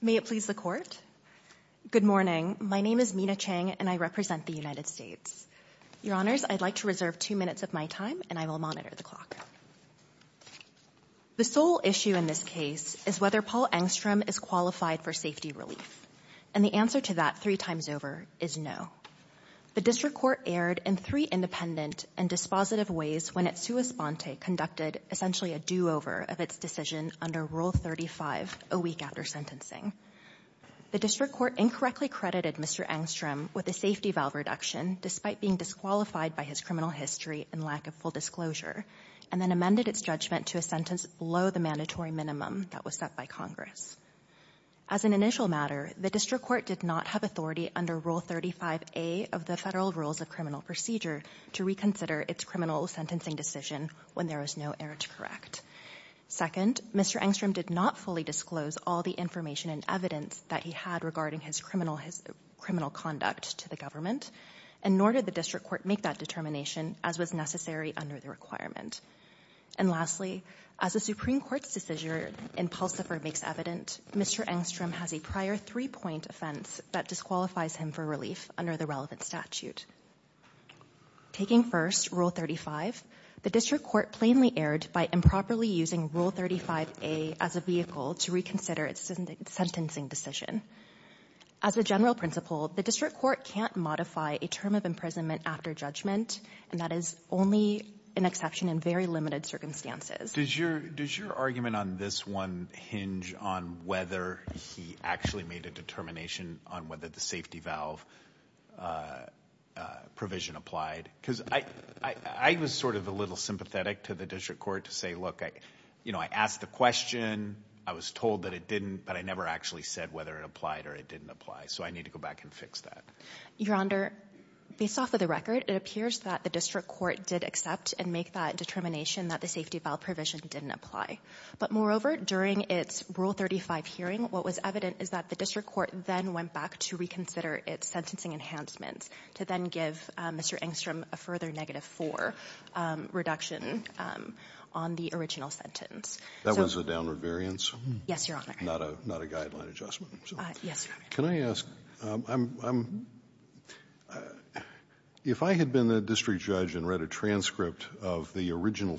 May it please the Court. Good morning. My name is Mina Chang, and I represent the United States. Your Honors, I'd like to reserve two minutes of my time, and I will monitor the clock. The sole issue in this case is whether Paul Engstrom is qualified for safety relief, and the answer to that three times over is no. The district court erred in three independent and dispositive ways when its sua sponte conducted essentially a do-over of its decision under Rule 35 a week after sentencing. The district court incorrectly credited Mr. Engstrom with a safety valve reduction, despite being disqualified by his criminal history and lack of full disclosure, and then amended its judgment to a sentence below the mandatory minimum that was set by Congress. As an initial matter, the district court did not have authority under Rule 35A of the Federal Rules of Criminal Procedure to reconsider its criminal sentencing decision when there was no error to correct. Second, Mr. Engstrom did not fully disclose all the information and evidence that he had regarding his criminal conduct to the government, and nor did the district court make that determination, as was necessary under the requirement. And lastly, as the Supreme Court's decision in Pulsifer makes evident, Mr. Engstrom has a prior three-point offense that disqualifies him for relief under the relevant statute. Taking first Rule 35, the district court plainly erred by improperly using Rule 35A as a vehicle to reconsider its sentencing decision. As a general principle, the district court can't modify a term of imprisonment after judgment, and that is only an exception in very limited circumstances. Does your argument on this one hinge on whether he actually made a determination on whether the safety valve provision applied? Because I was sort of a little sympathetic to the district court to say, look, I asked the question, I was told that it didn't, but I never actually said whether it applied or it didn't apply, so I need to go back and fix that. Your Honor, based off of the record, it appears that the district court did accept and make that determination that the safety valve provision didn't apply. But moreover, during its Rule 35 hearing, what was evident is that the district court then went back to reconsider its sentencing enhancements to then give Mr. Engstrom a further negative four reduction on the original sentence. That was a downward variance? Yes, Your Honor. Not a guideline adjustment? Yes, Your Honor. Can I ask, if I had been the district judge and read a transcript of the original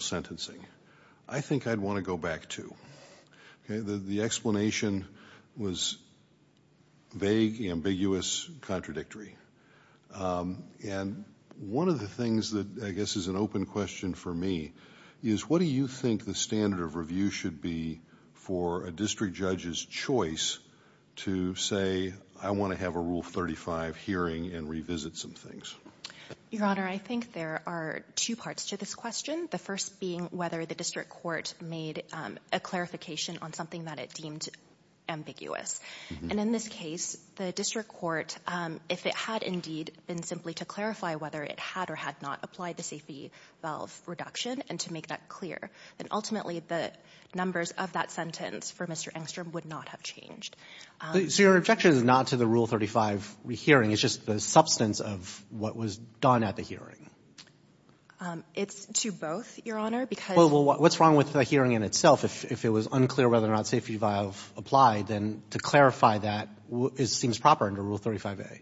explanation, was vague, ambiguous, contradictory? And one of the things that I guess is an open question for me is, what do you think the standard of review should be for a district judge's choice to say, I want to have a Rule 35 hearing and revisit some things? Your Honor, I think there are two parts to this question. The first being whether the district court made a clarification on something that it deemed ambiguous. And in this case, the district court, if it had indeed been simply to clarify whether it had or had not applied the safety valve reduction and to make that clear, then ultimately the numbers of that sentence for Mr. Engstrom would not have changed. So your objection is not to the Rule 35 hearing, it's just the substance of what was done at the hearing? It's to both, Your Honor, because What's wrong with the hearing in itself? If it was unclear whether or not safety valve applied, then to clarify that seems proper under Rule 35A.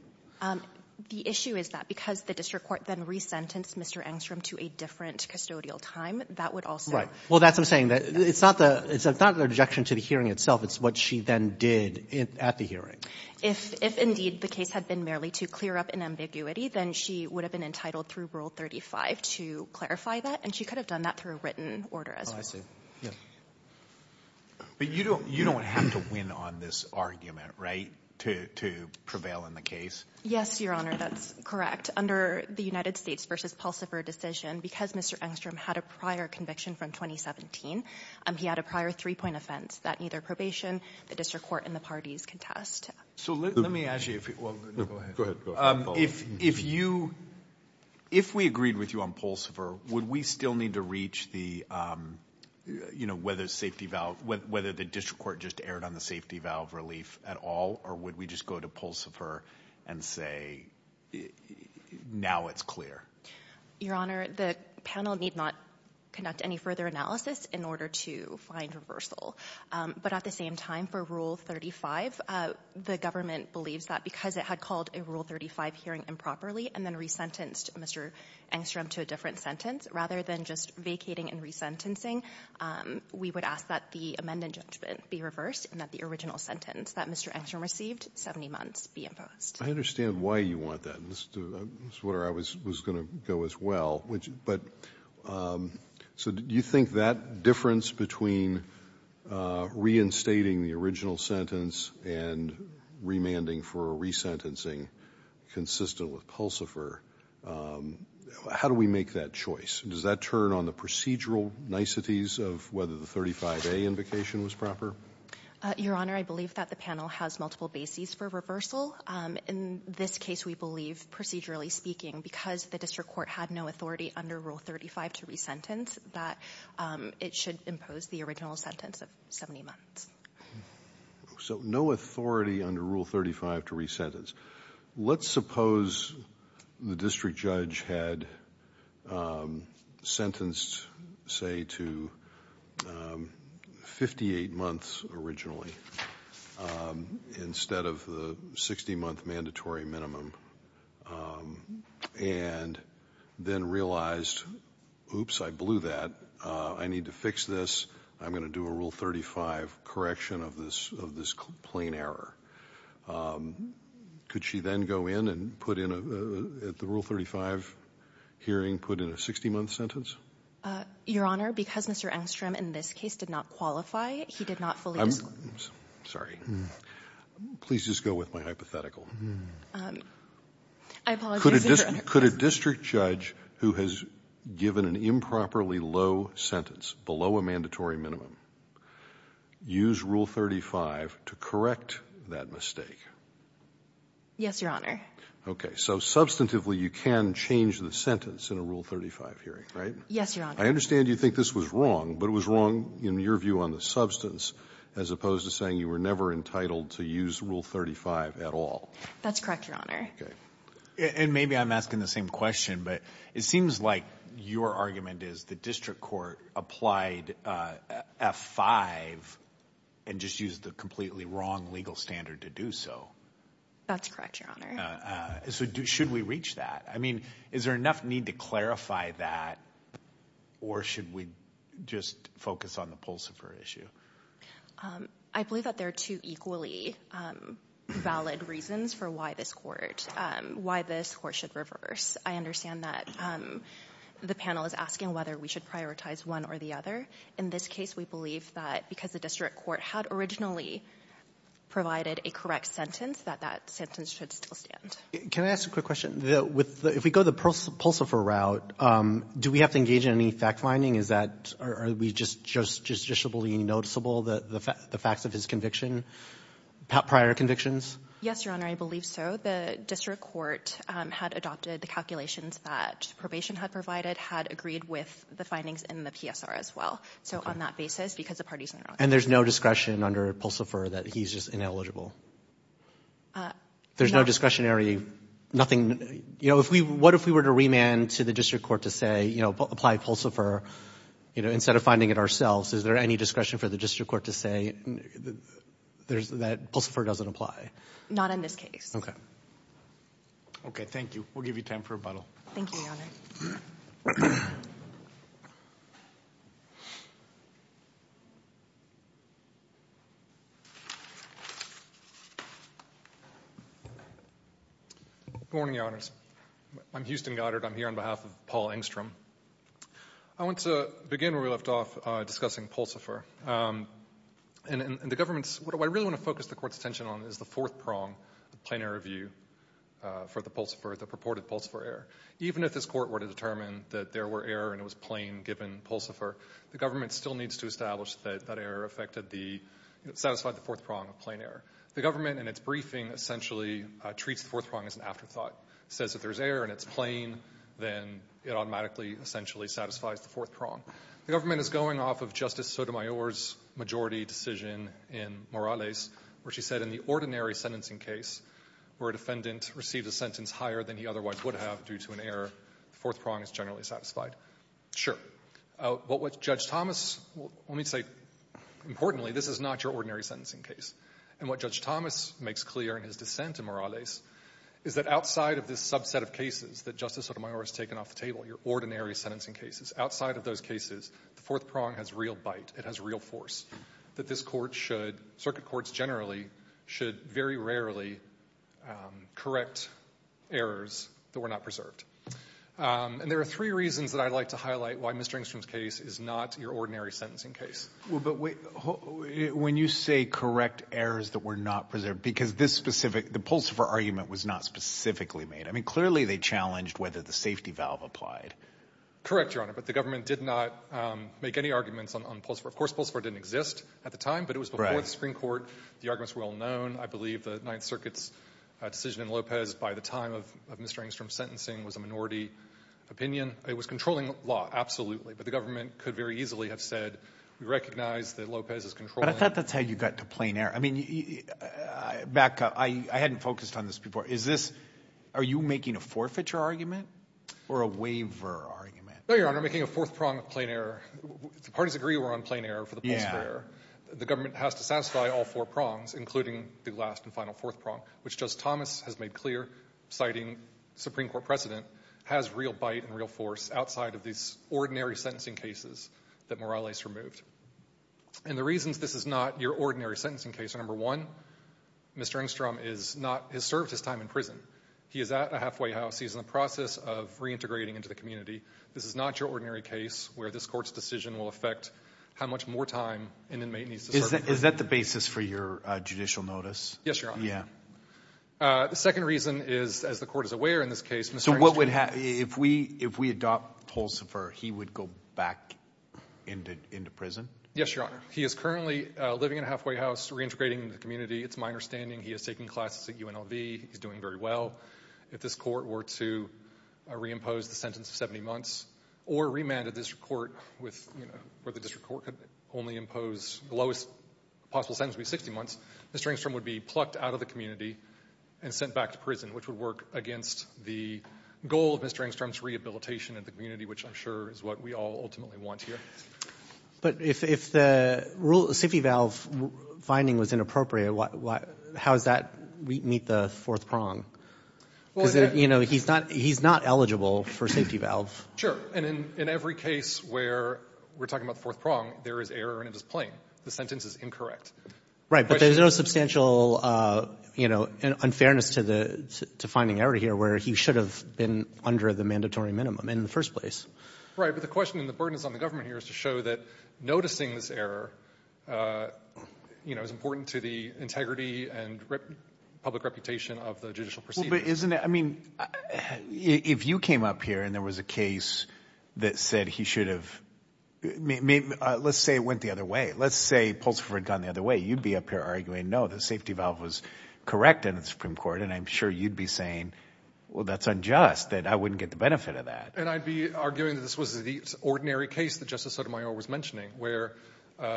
The issue is that because the district court then re-sentenced Mr. Engstrom to a different custodial time, that would also Right. Well, that's what I'm saying. It's not the objection to the hearing itself. It's what she then did at the hearing. If indeed the case had been merely to clear up an ambiguity, then she would have been entitled through Rule 35 to clarify that, and she could have done that through a written order as well. Oh, I see. Yeah. But you don't have to win on this argument, right, to prevail in the case? Yes, Your Honor, that's correct. Under the United States v. Pallstaffer decision, because Mr. Engstrom had a prior conviction from 2017, he had a prior three-point offense that neither probation, the district court, and the parties contest. So let me ask you, if we agreed with you on Pallstaffer, would we still need to reach whether the district court just erred on the safety valve relief at all, or would we just go to Pallstaffer and say, now it's clear? Your Honor, the panel need not conduct any further analysis in order to find reversal. But at the same time, for Rule 35, the government believes that because it had called a Rule 35 hearing improperly and then resentenced Mr. Engstrom to a different sentence, rather than just vacating and resentencing, we would ask that the amended judgment be reversed and that the original sentence that Mr. Engstrom received, 70 months, be imposed. I understand why you want that. And this is where I was going to go as well. But so do you think that difference between reinstating the original sentence and remanding for a resentencing consistent with Pallstaffer, how do we make that choice? Does that turn on the procedural niceties of whether the 35A invocation was proper? Your Honor, I believe that the panel has multiple bases for reversal. In this case, we believe, procedurally speaking, because the district court had no authority under Rule 35 to resentence, that it should impose the original sentence of 70 months. So no authority under Rule 35 to resentence. Let's suppose the district judge had sentenced, say, to 58 months originally, instead of the 60-month mandatory minimum, and then realized, oops, I blew that, I need to fix this, I'm going to do a Rule 35 correction of this plain error. Could she then go in and put in a – at the Rule 35 hearing, put in a 60-month sentence? Your Honor, because Mr. Engstrom in this case did not qualify, he did not fully disclose. I'm sorry. Please just go with my hypothetical. Could a district judge who has given an improperly low sentence below a mandatory minimum use Rule 35 to correct that mistake? Yes, Your Honor. Okay. So substantively, you can change the sentence in a Rule 35 hearing, right? Yes, Your Honor. I understand you think this was wrong, but it was wrong in your view on the substance as opposed to saying you were never entitled to use Rule 35 at all. That's correct, Your Honor. Okay. And maybe I'm asking the same question, but it seems like your argument is the district court applied F-5 and just used the completely wrong legal standard to do so. That's correct, Your Honor. So should we reach that? I mean, is there enough need to clarify that, or should we just focus on the Pulsifer issue? I believe that there are two equally valid reasons for why this court should reverse. I understand that the panel is asking whether we should prioritize one or the other. In this case, we believe that because the district court had originally provided a correct sentence, that that sentence should still stand. Can I ask a quick question? If we go the Pulsifer route, do we have to engage in any fact-finding? Are we just judicially noticeable the facts of his conviction, prior convictions? Yes, Your Honor, I believe so. The district court had adopted the calculations that probation had provided, had agreed with the findings in the PSR as well. So on that basis, because the parties are— And there's no discretion under Pulsifer that he's just ineligible? There's no discretionary—what if we were to remand to the district court to say, apply Pulsifer instead of finding it ourselves? Is there any discretion for the district court to say that Pulsifer doesn't apply? Not in this case. Okay, thank you. We'll give you time for rebuttal. Thank you, Your Honor. Good morning, Your Honors. I'm Houston Goddard. I'm here on behalf of Paul Engstrom. I want to begin where we left off, discussing Pulsifer. And the government's—what I really want to focus the court's attention on is the fourth prong, the plain error view for the Pulsifer, the purported Pulsifer error. Even if this court were to determine that there were error and it was plain, given Pulsifer, the government still needs to establish that that error affected the—satisfied the fourth prong of plain error. The government, in its briefing, essentially treats the fourth prong as an afterthought. Says if there's error and it's plain, then it automatically essentially satisfies the fourth prong. The government is going off of Justice Sotomayor's majority decision in Morales, where she said in the ordinary sentencing case, where a defendant received a sentence higher than he otherwise would have due to an error, the fourth prong is generally satisfied. Sure. But what Judge Thomas—let me say, importantly, this is not your ordinary sentencing case. And what Judge Thomas makes clear in his dissent in Morales is that outside of this subset of cases that Justice Sotomayor has taken off the table, your ordinary sentencing cases, outside of those cases, the fourth prong has real bite. It has real force. That this Court should—Circuit Courts generally should very rarely correct errors that were not preserved. And there are three reasons that I'd like to highlight why Mr. Engstrom's case is not your ordinary sentencing case. But when you say correct errors that were not preserved, because this specific—the Pulsifer argument was not specifically made. I mean, clearly they challenged whether the safety valve applied. Correct, Your Honor. But the government did not make any arguments on Pulsifer. Of course, Pulsifer didn't exist at the time. Right. But it was before the Supreme Court. The arguments were well known. I believe the Ninth Circuit's decision in Lopez by the time of Mr. Engstrom's sentencing was a minority opinion. It was controlling law, absolutely. But the government could very easily have said, we recognize that Lopez is controlling— But I thought that's how you got to plain error. I mean, back—I hadn't focused on this before. Is this—are you making a forfeiture argument or a waiver argument? No, Your Honor. I'm making a fourth prong of plain error. The parties agree we're on plain error for the Pulsifer error. The government has to satisfy all four prongs, including the last and final fourth prong, which Justice Thomas has made clear, citing Supreme Court precedent, has real bite and real force outside of these ordinary sentencing cases that Morales removed. And the reasons this is not your ordinary sentencing case are, number one, Mr. Engstrom is not—has served his time in prison. He is at a halfway house. He's in the process of reintegrating into the community. This is not your ordinary case where this court's decision will affect how much more time an inmate needs to serve. Is that the basis for your judicial notice? Yes, Your Honor. Yeah. The second reason is, as the court is aware in this case, Mr. Engstrom— If we adopt Pulsifer, he would go back into prison? Yes, Your Honor. He is currently living in a halfway house, reintegrating into the community. It's my understanding he is taking classes at UNLV. He's doing very well. If this court were to reimpose the sentence of 70 months or remand the district court with—where the district court could only impose the lowest possible sentence would be 60 months, Mr. Engstrom would be plucked out of the community and sent back to prison, which would work against the goal of Mr. Engstrom's rehabilitation in the community, which I'm sure is what we all ultimately want here. But if the safety valve finding was inappropriate, how does that meet the fourth prong? He's not eligible for safety valve. Sure. And in every case where we're talking about the fourth prong, there is error and it is plain. The sentence is incorrect. Right. But there's no substantial, you know, unfairness to the—to finding error here where he should have been under the mandatory minimum in the first place. Right. But the question and the burden is on the government here is to show that noticing this error, you know, is important to the integrity and public reputation of the judicial proceedings. Well, but isn't it—I mean, if you came up here and there was a case that said he should have—let's say it went the other way. Let's say Pulsifer had gone the other way. You'd be up here arguing, no, the safety valve was correct in the Supreme Court. And I'm sure you'd be saying, well, that's unjust, that I wouldn't get the benefit of that. And I'd be arguing that this was the ordinary case that Justice Sotomayor was mentioning, where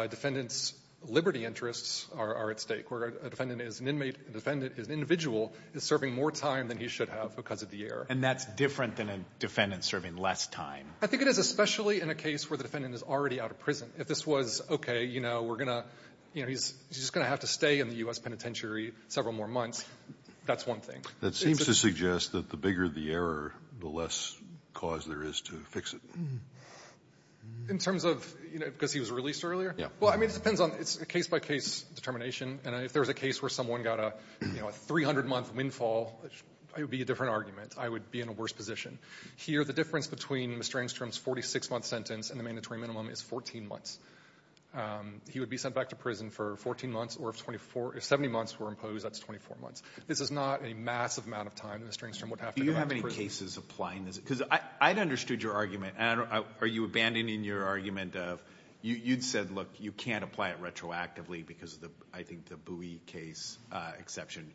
defendants' liberty interests are at stake, where a defendant is an inmate, a defendant is an individual, is serving more time than he should have because of the error. And that's different than a defendant serving less time. I think it is, especially in a case where the defendant is already out of prison. If this was, okay, you know, we're going to, you know, he's just going to have to stay in the U.S. penitentiary several more months, that's one thing. That seems to suggest that the bigger the error, the less cause there is to fix it. In terms of, you know, because he was released earlier? Yeah. Well, I mean, it depends on the case-by-case determination. And if there was a case where someone got a, you know, a 300-month windfall, it would be a different argument. I would be in a worse position. Here, the difference between Mr. Engstrom's 46-month sentence and the mandatory minimum is 14 months. He would be sent back to prison for 14 months, or if 70 months were imposed, that's 24 months. This is not a massive amount of time that Mr. Engstrom would have to go back to prison. Do you have any cases applying this? Because I'd understood your argument, and are you abandoning your argument of, you'd said, look, you can't apply it retroactively because of the, I think, the Bowie case exception.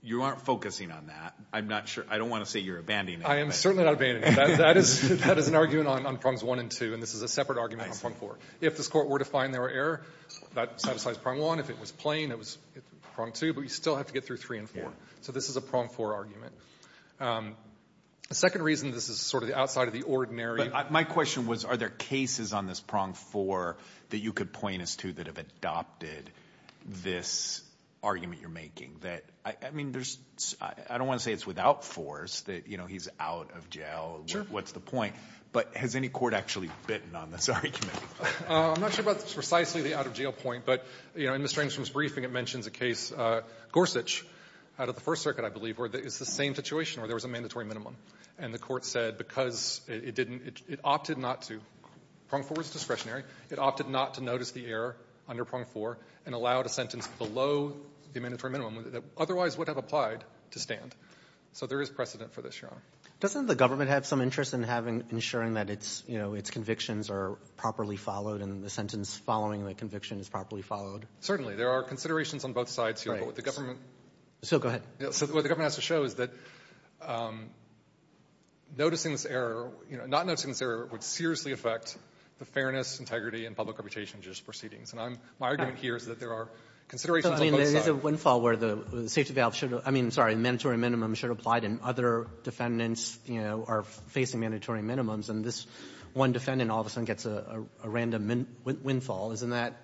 You aren't focusing on that. I'm not sure, I don't want to say you're abandoning it. I am certainly not abandoning it. That is an argument on prongs one and two, and this is a separate argument on prong four. If this Court were to find there were error, that satisfies prong one. If it was plain, it was prong two. But you still have to get through three and four. So this is a prong four argument. The second reason, this is sort of the outside of the ordinary. But my question was, are there cases on this prong four that you could point us to that have adopted this argument you're making, that, I mean, there's — I don't want to say it's without force, that, you know, he's out of jail, what's the point, but has any court actually bitten on this argument? I'm not sure about precisely the out-of-jail point, but, you know, in Ms. Strangstrom's briefing, it mentions a case, Gorsuch, out of the First Circuit, I believe, where it's the same situation, where there was a mandatory minimum. And the Court said, because it didn't — it opted not to — prong four was discretionary. It opted not to notice the error under prong four and allowed a sentence below the mandatory minimum that otherwise would have applied to stand. So there is precedent for this, Your Honor. Doesn't the government have some interest in having — ensuring that its, you know, its convictions are properly followed and the sentence following the conviction is properly followed? Certainly. There are considerations on both sides, Your Honor, but what the government — So go ahead. So what the government has to show is that noticing this error, you know, not noticing this error would seriously affect the fairness, integrity, and public reputation of judicial proceedings. And I'm — my argument here is that there are considerations on both sides. I mean, there is a windfall where the safety valve should have — I mean, I'm sorry, the mandatory minimum should have applied, and other defendants, you know, are facing mandatory minimums. And this one defendant all of a sudden gets a random windfall. Isn't that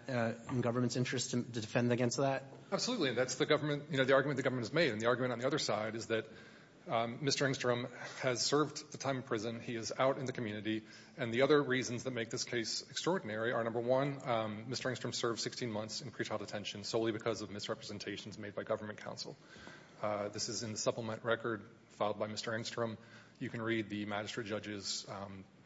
in government's interest to defend against that? Absolutely. That's the government — you know, the argument the government has made. And the argument on the other side is that Mr. Engstrom has served the time in prison. He is out in the community. And the other reasons that make this case extraordinary are, number one, Mr. Engstrom served 16 months in pretrial detention solely because of misrepresentations made by government counsel. This is in the supplement record filed by Mr. Engstrom. You can read the magistrate judge's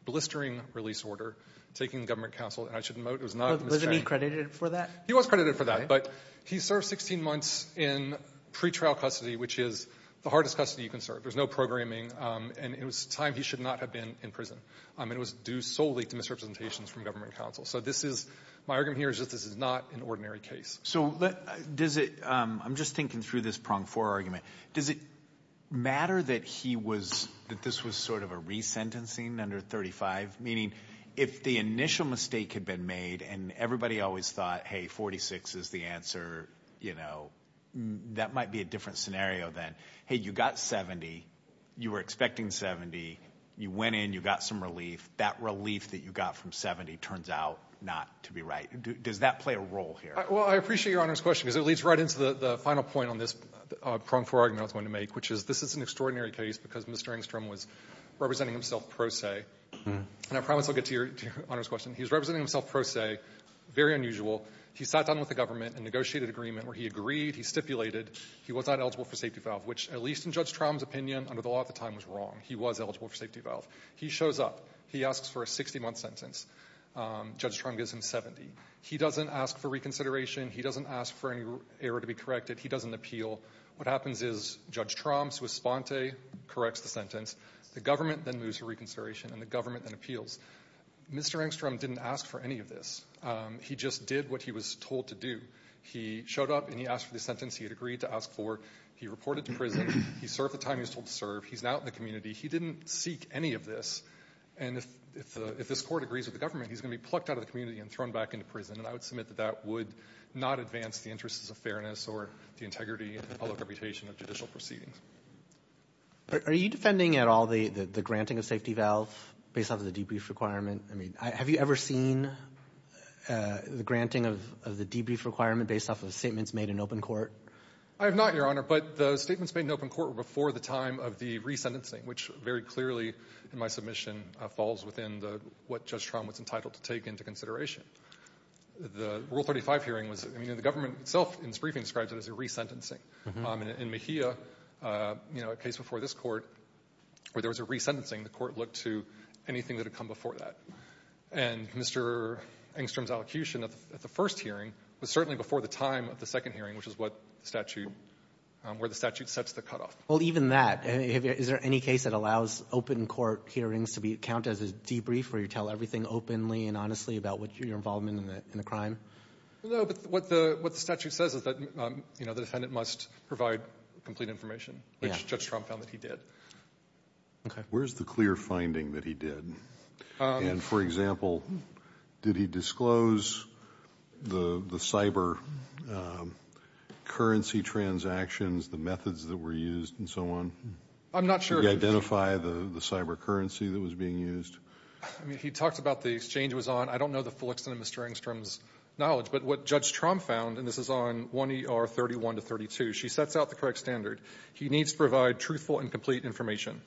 blistering release order taking government counsel. And I should note, it was not — Wasn't he credited for that? He was credited for that. But he served 16 months in pretrial custody, which is the hardest custody you can serve. There's no programming. And it was a time he should not have been in prison. I mean, it was due solely to misrepresentations from government counsel. So this is — my argument here is that this is not an ordinary case. So does it — I'm just thinking through this prong-four argument. Does it matter that he was — that this was sort of a resentencing under 35, meaning if the initial mistake had been made and everybody always thought, hey, 46 is the answer, you know, that might be a different scenario than, hey, you got 70, you were expecting 70, you went in, you got some relief. That relief that you got from 70 turns out not to be right. Does that play a role here? Well, I appreciate Your Honor's question, because it leads right into the final point on this prong-four argument I was going to make, which is this is an extraordinary case because Mr. Engstrom was representing himself pro se. And I promise I'll get to Your Honor's question. He was representing himself pro se, very unusual. He sat down with the government and negotiated an agreement where he agreed, he stipulated, he was not eligible for safety valve, which, at least in Judge Trum's opinion under the law at the time, was wrong. He was eligible for safety valve. He shows up. He asks for a 60-month sentence. Judge Trum gives him 70. He doesn't ask for reconsideration. He doesn't ask for any error to be corrected. He doesn't appeal. What happens is Judge Trum's response corrects the sentence. The government then moves for reconsideration and the government then appeals. Mr. Engstrom didn't ask for any of this. He just did what he was told to do. He showed up and he asked for the sentence he had agreed to ask for. He reported to prison. He served the time he was told to serve. He's now in the community. He didn't seek any of this. And if this Court agrees with the government, he's going to be plucked out of the community and thrown back into prison. And I would submit that that would not advance the interests of fairness or the integrity and the public reputation of judicial proceedings. Are you defending at all the granting of safety valve based off of the debrief requirement? I mean, have you ever seen the granting of the debrief requirement based off of statements made in open court? I have not, Your Honor. But the statements made in open court were before the time of the resentencing, which very clearly in my submission falls within what Judge Trum was entitled to take into consideration. The Rule 35 hearing was the government itself in its briefing described it as a resentencing. In Mejia, you know, a case before this Court where there was a resentencing, the Court looked to anything that had come before that. And Mr. Engstrom's allocution at the first hearing was certainly before the time of the statute where the statute sets the cutoff. Well, even that, is there any case that allows open court hearings to be counted as a debrief where you tell everything openly and honestly about what your involvement in the crime? No, but what the statute says is that, you know, the defendant must provide complete information, which Judge Trum found that he did. Okay. Where's the clear finding that he did? And for example, did he disclose the cyber currency transactions, the methods that were used, and so on? I'm not sure. Did he identify the cyber currency that was being used? I mean, he talked about the exchange was on. I don't know the full extent of Mr. Engstrom's knowledge. But what Judge Trum found, and this is on 1 ER 31 to 32, she sets out the correct standard. He needs to provide truthful and complete information.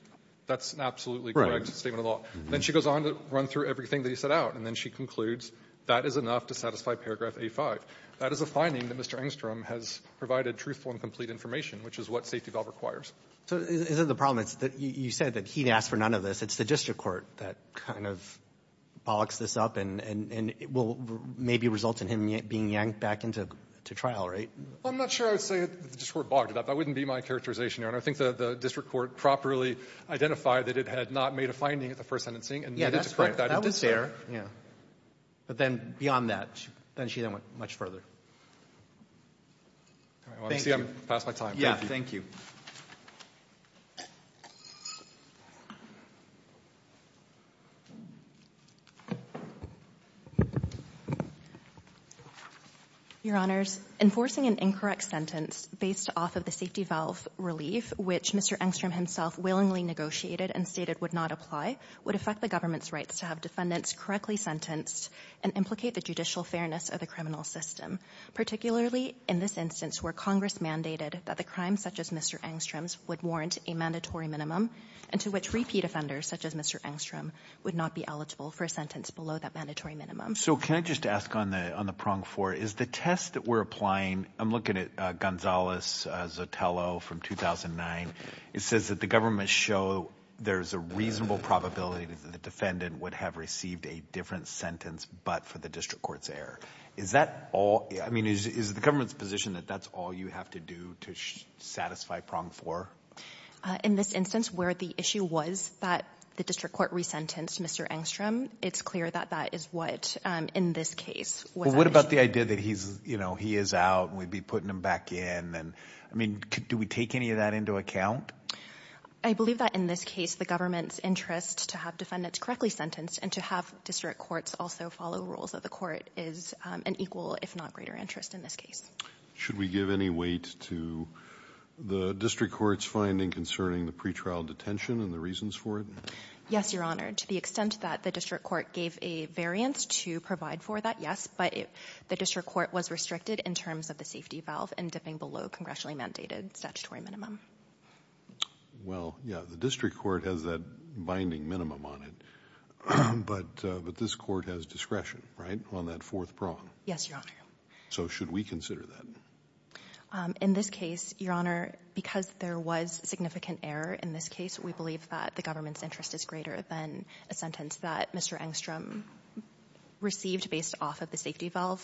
That's an absolutely correct statement of law. Then she goes on to run through everything that he set out, and then she concludes that is enough to satisfy paragraph A-5. That is a finding that Mr. Engstrom has provided truthful and complete information, which is what safety valve requires. So isn't the problem, you said that he'd ask for none of this. It's the district court that kind of bogs this up, and it will maybe result in him being yanked back into trial, right? I'm not sure I would say the district court bogged it up. That wouldn't be my characterization, Your Honor. I think the district court properly identified that it had not made a finding at the first sentencing and needed to correct that at the second. That was fair. Yeah. But then beyond that, then she then went much further. All right. Well, I see I'm past my time. Thank you. Thank you. Your Honors, enforcing an incorrect sentence based off of the safety valve relief which Mr. Engstrom himself willingly negotiated and stated would not apply would affect the government's rights to have defendants correctly sentenced and implicate the judicial fairness of the criminal system, particularly in this instance where Congress mandated that the crimes such as Mr. Engstrom's would warrant a mandatory minimum and to which repeat offenders such as Mr. Engstrom would not be eligible for a sentence below that mandatory minimum. So can I just ask on the prong for it, is the test that we're applying, I'm looking at Gonzales-Zotello from 2009. It says that the government show there's a reasonable probability that the defendant would have received a different sentence but for the district court's error. Is that all? I mean, is the government's position that that's all you have to do to satisfy prong four? In this instance where the issue was that the district court resentenced Mr. Engstrom, it's clear that that is what in this case was the issue. It's clear that he is out and we'd be putting him back in and I mean do we take any of that into account? I believe that in this case the government's interest to have defendants correctly sentenced and to have district courts also follow rules of the court is an equal if not greater interest in this case. Should we give any weight to the district court's finding concerning the pretrial detention and the reasons for it? Yes, your honor. To the extent that the district court gave a variance to provide for that, yes, but the district court was restricted in terms of the safety valve and dipping below congressionally mandated statutory minimum. Well, yeah, the district court has that binding minimum on it, but this court has discretion, right, on that fourth prong? Yes, your honor. So should we consider that? In this case, your honor, because there was significant error in this case, we believe that the government's interest is greater than a sentence that Mr. Engstrom received based off of the safety valve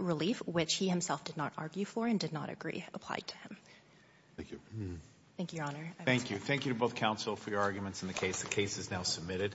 relief, which he himself did not argue for and did not agree applied to him. Thank you. Thank you, your honor. Thank you. Thank you to both counsel for your arguments in the case. The case is now submitted.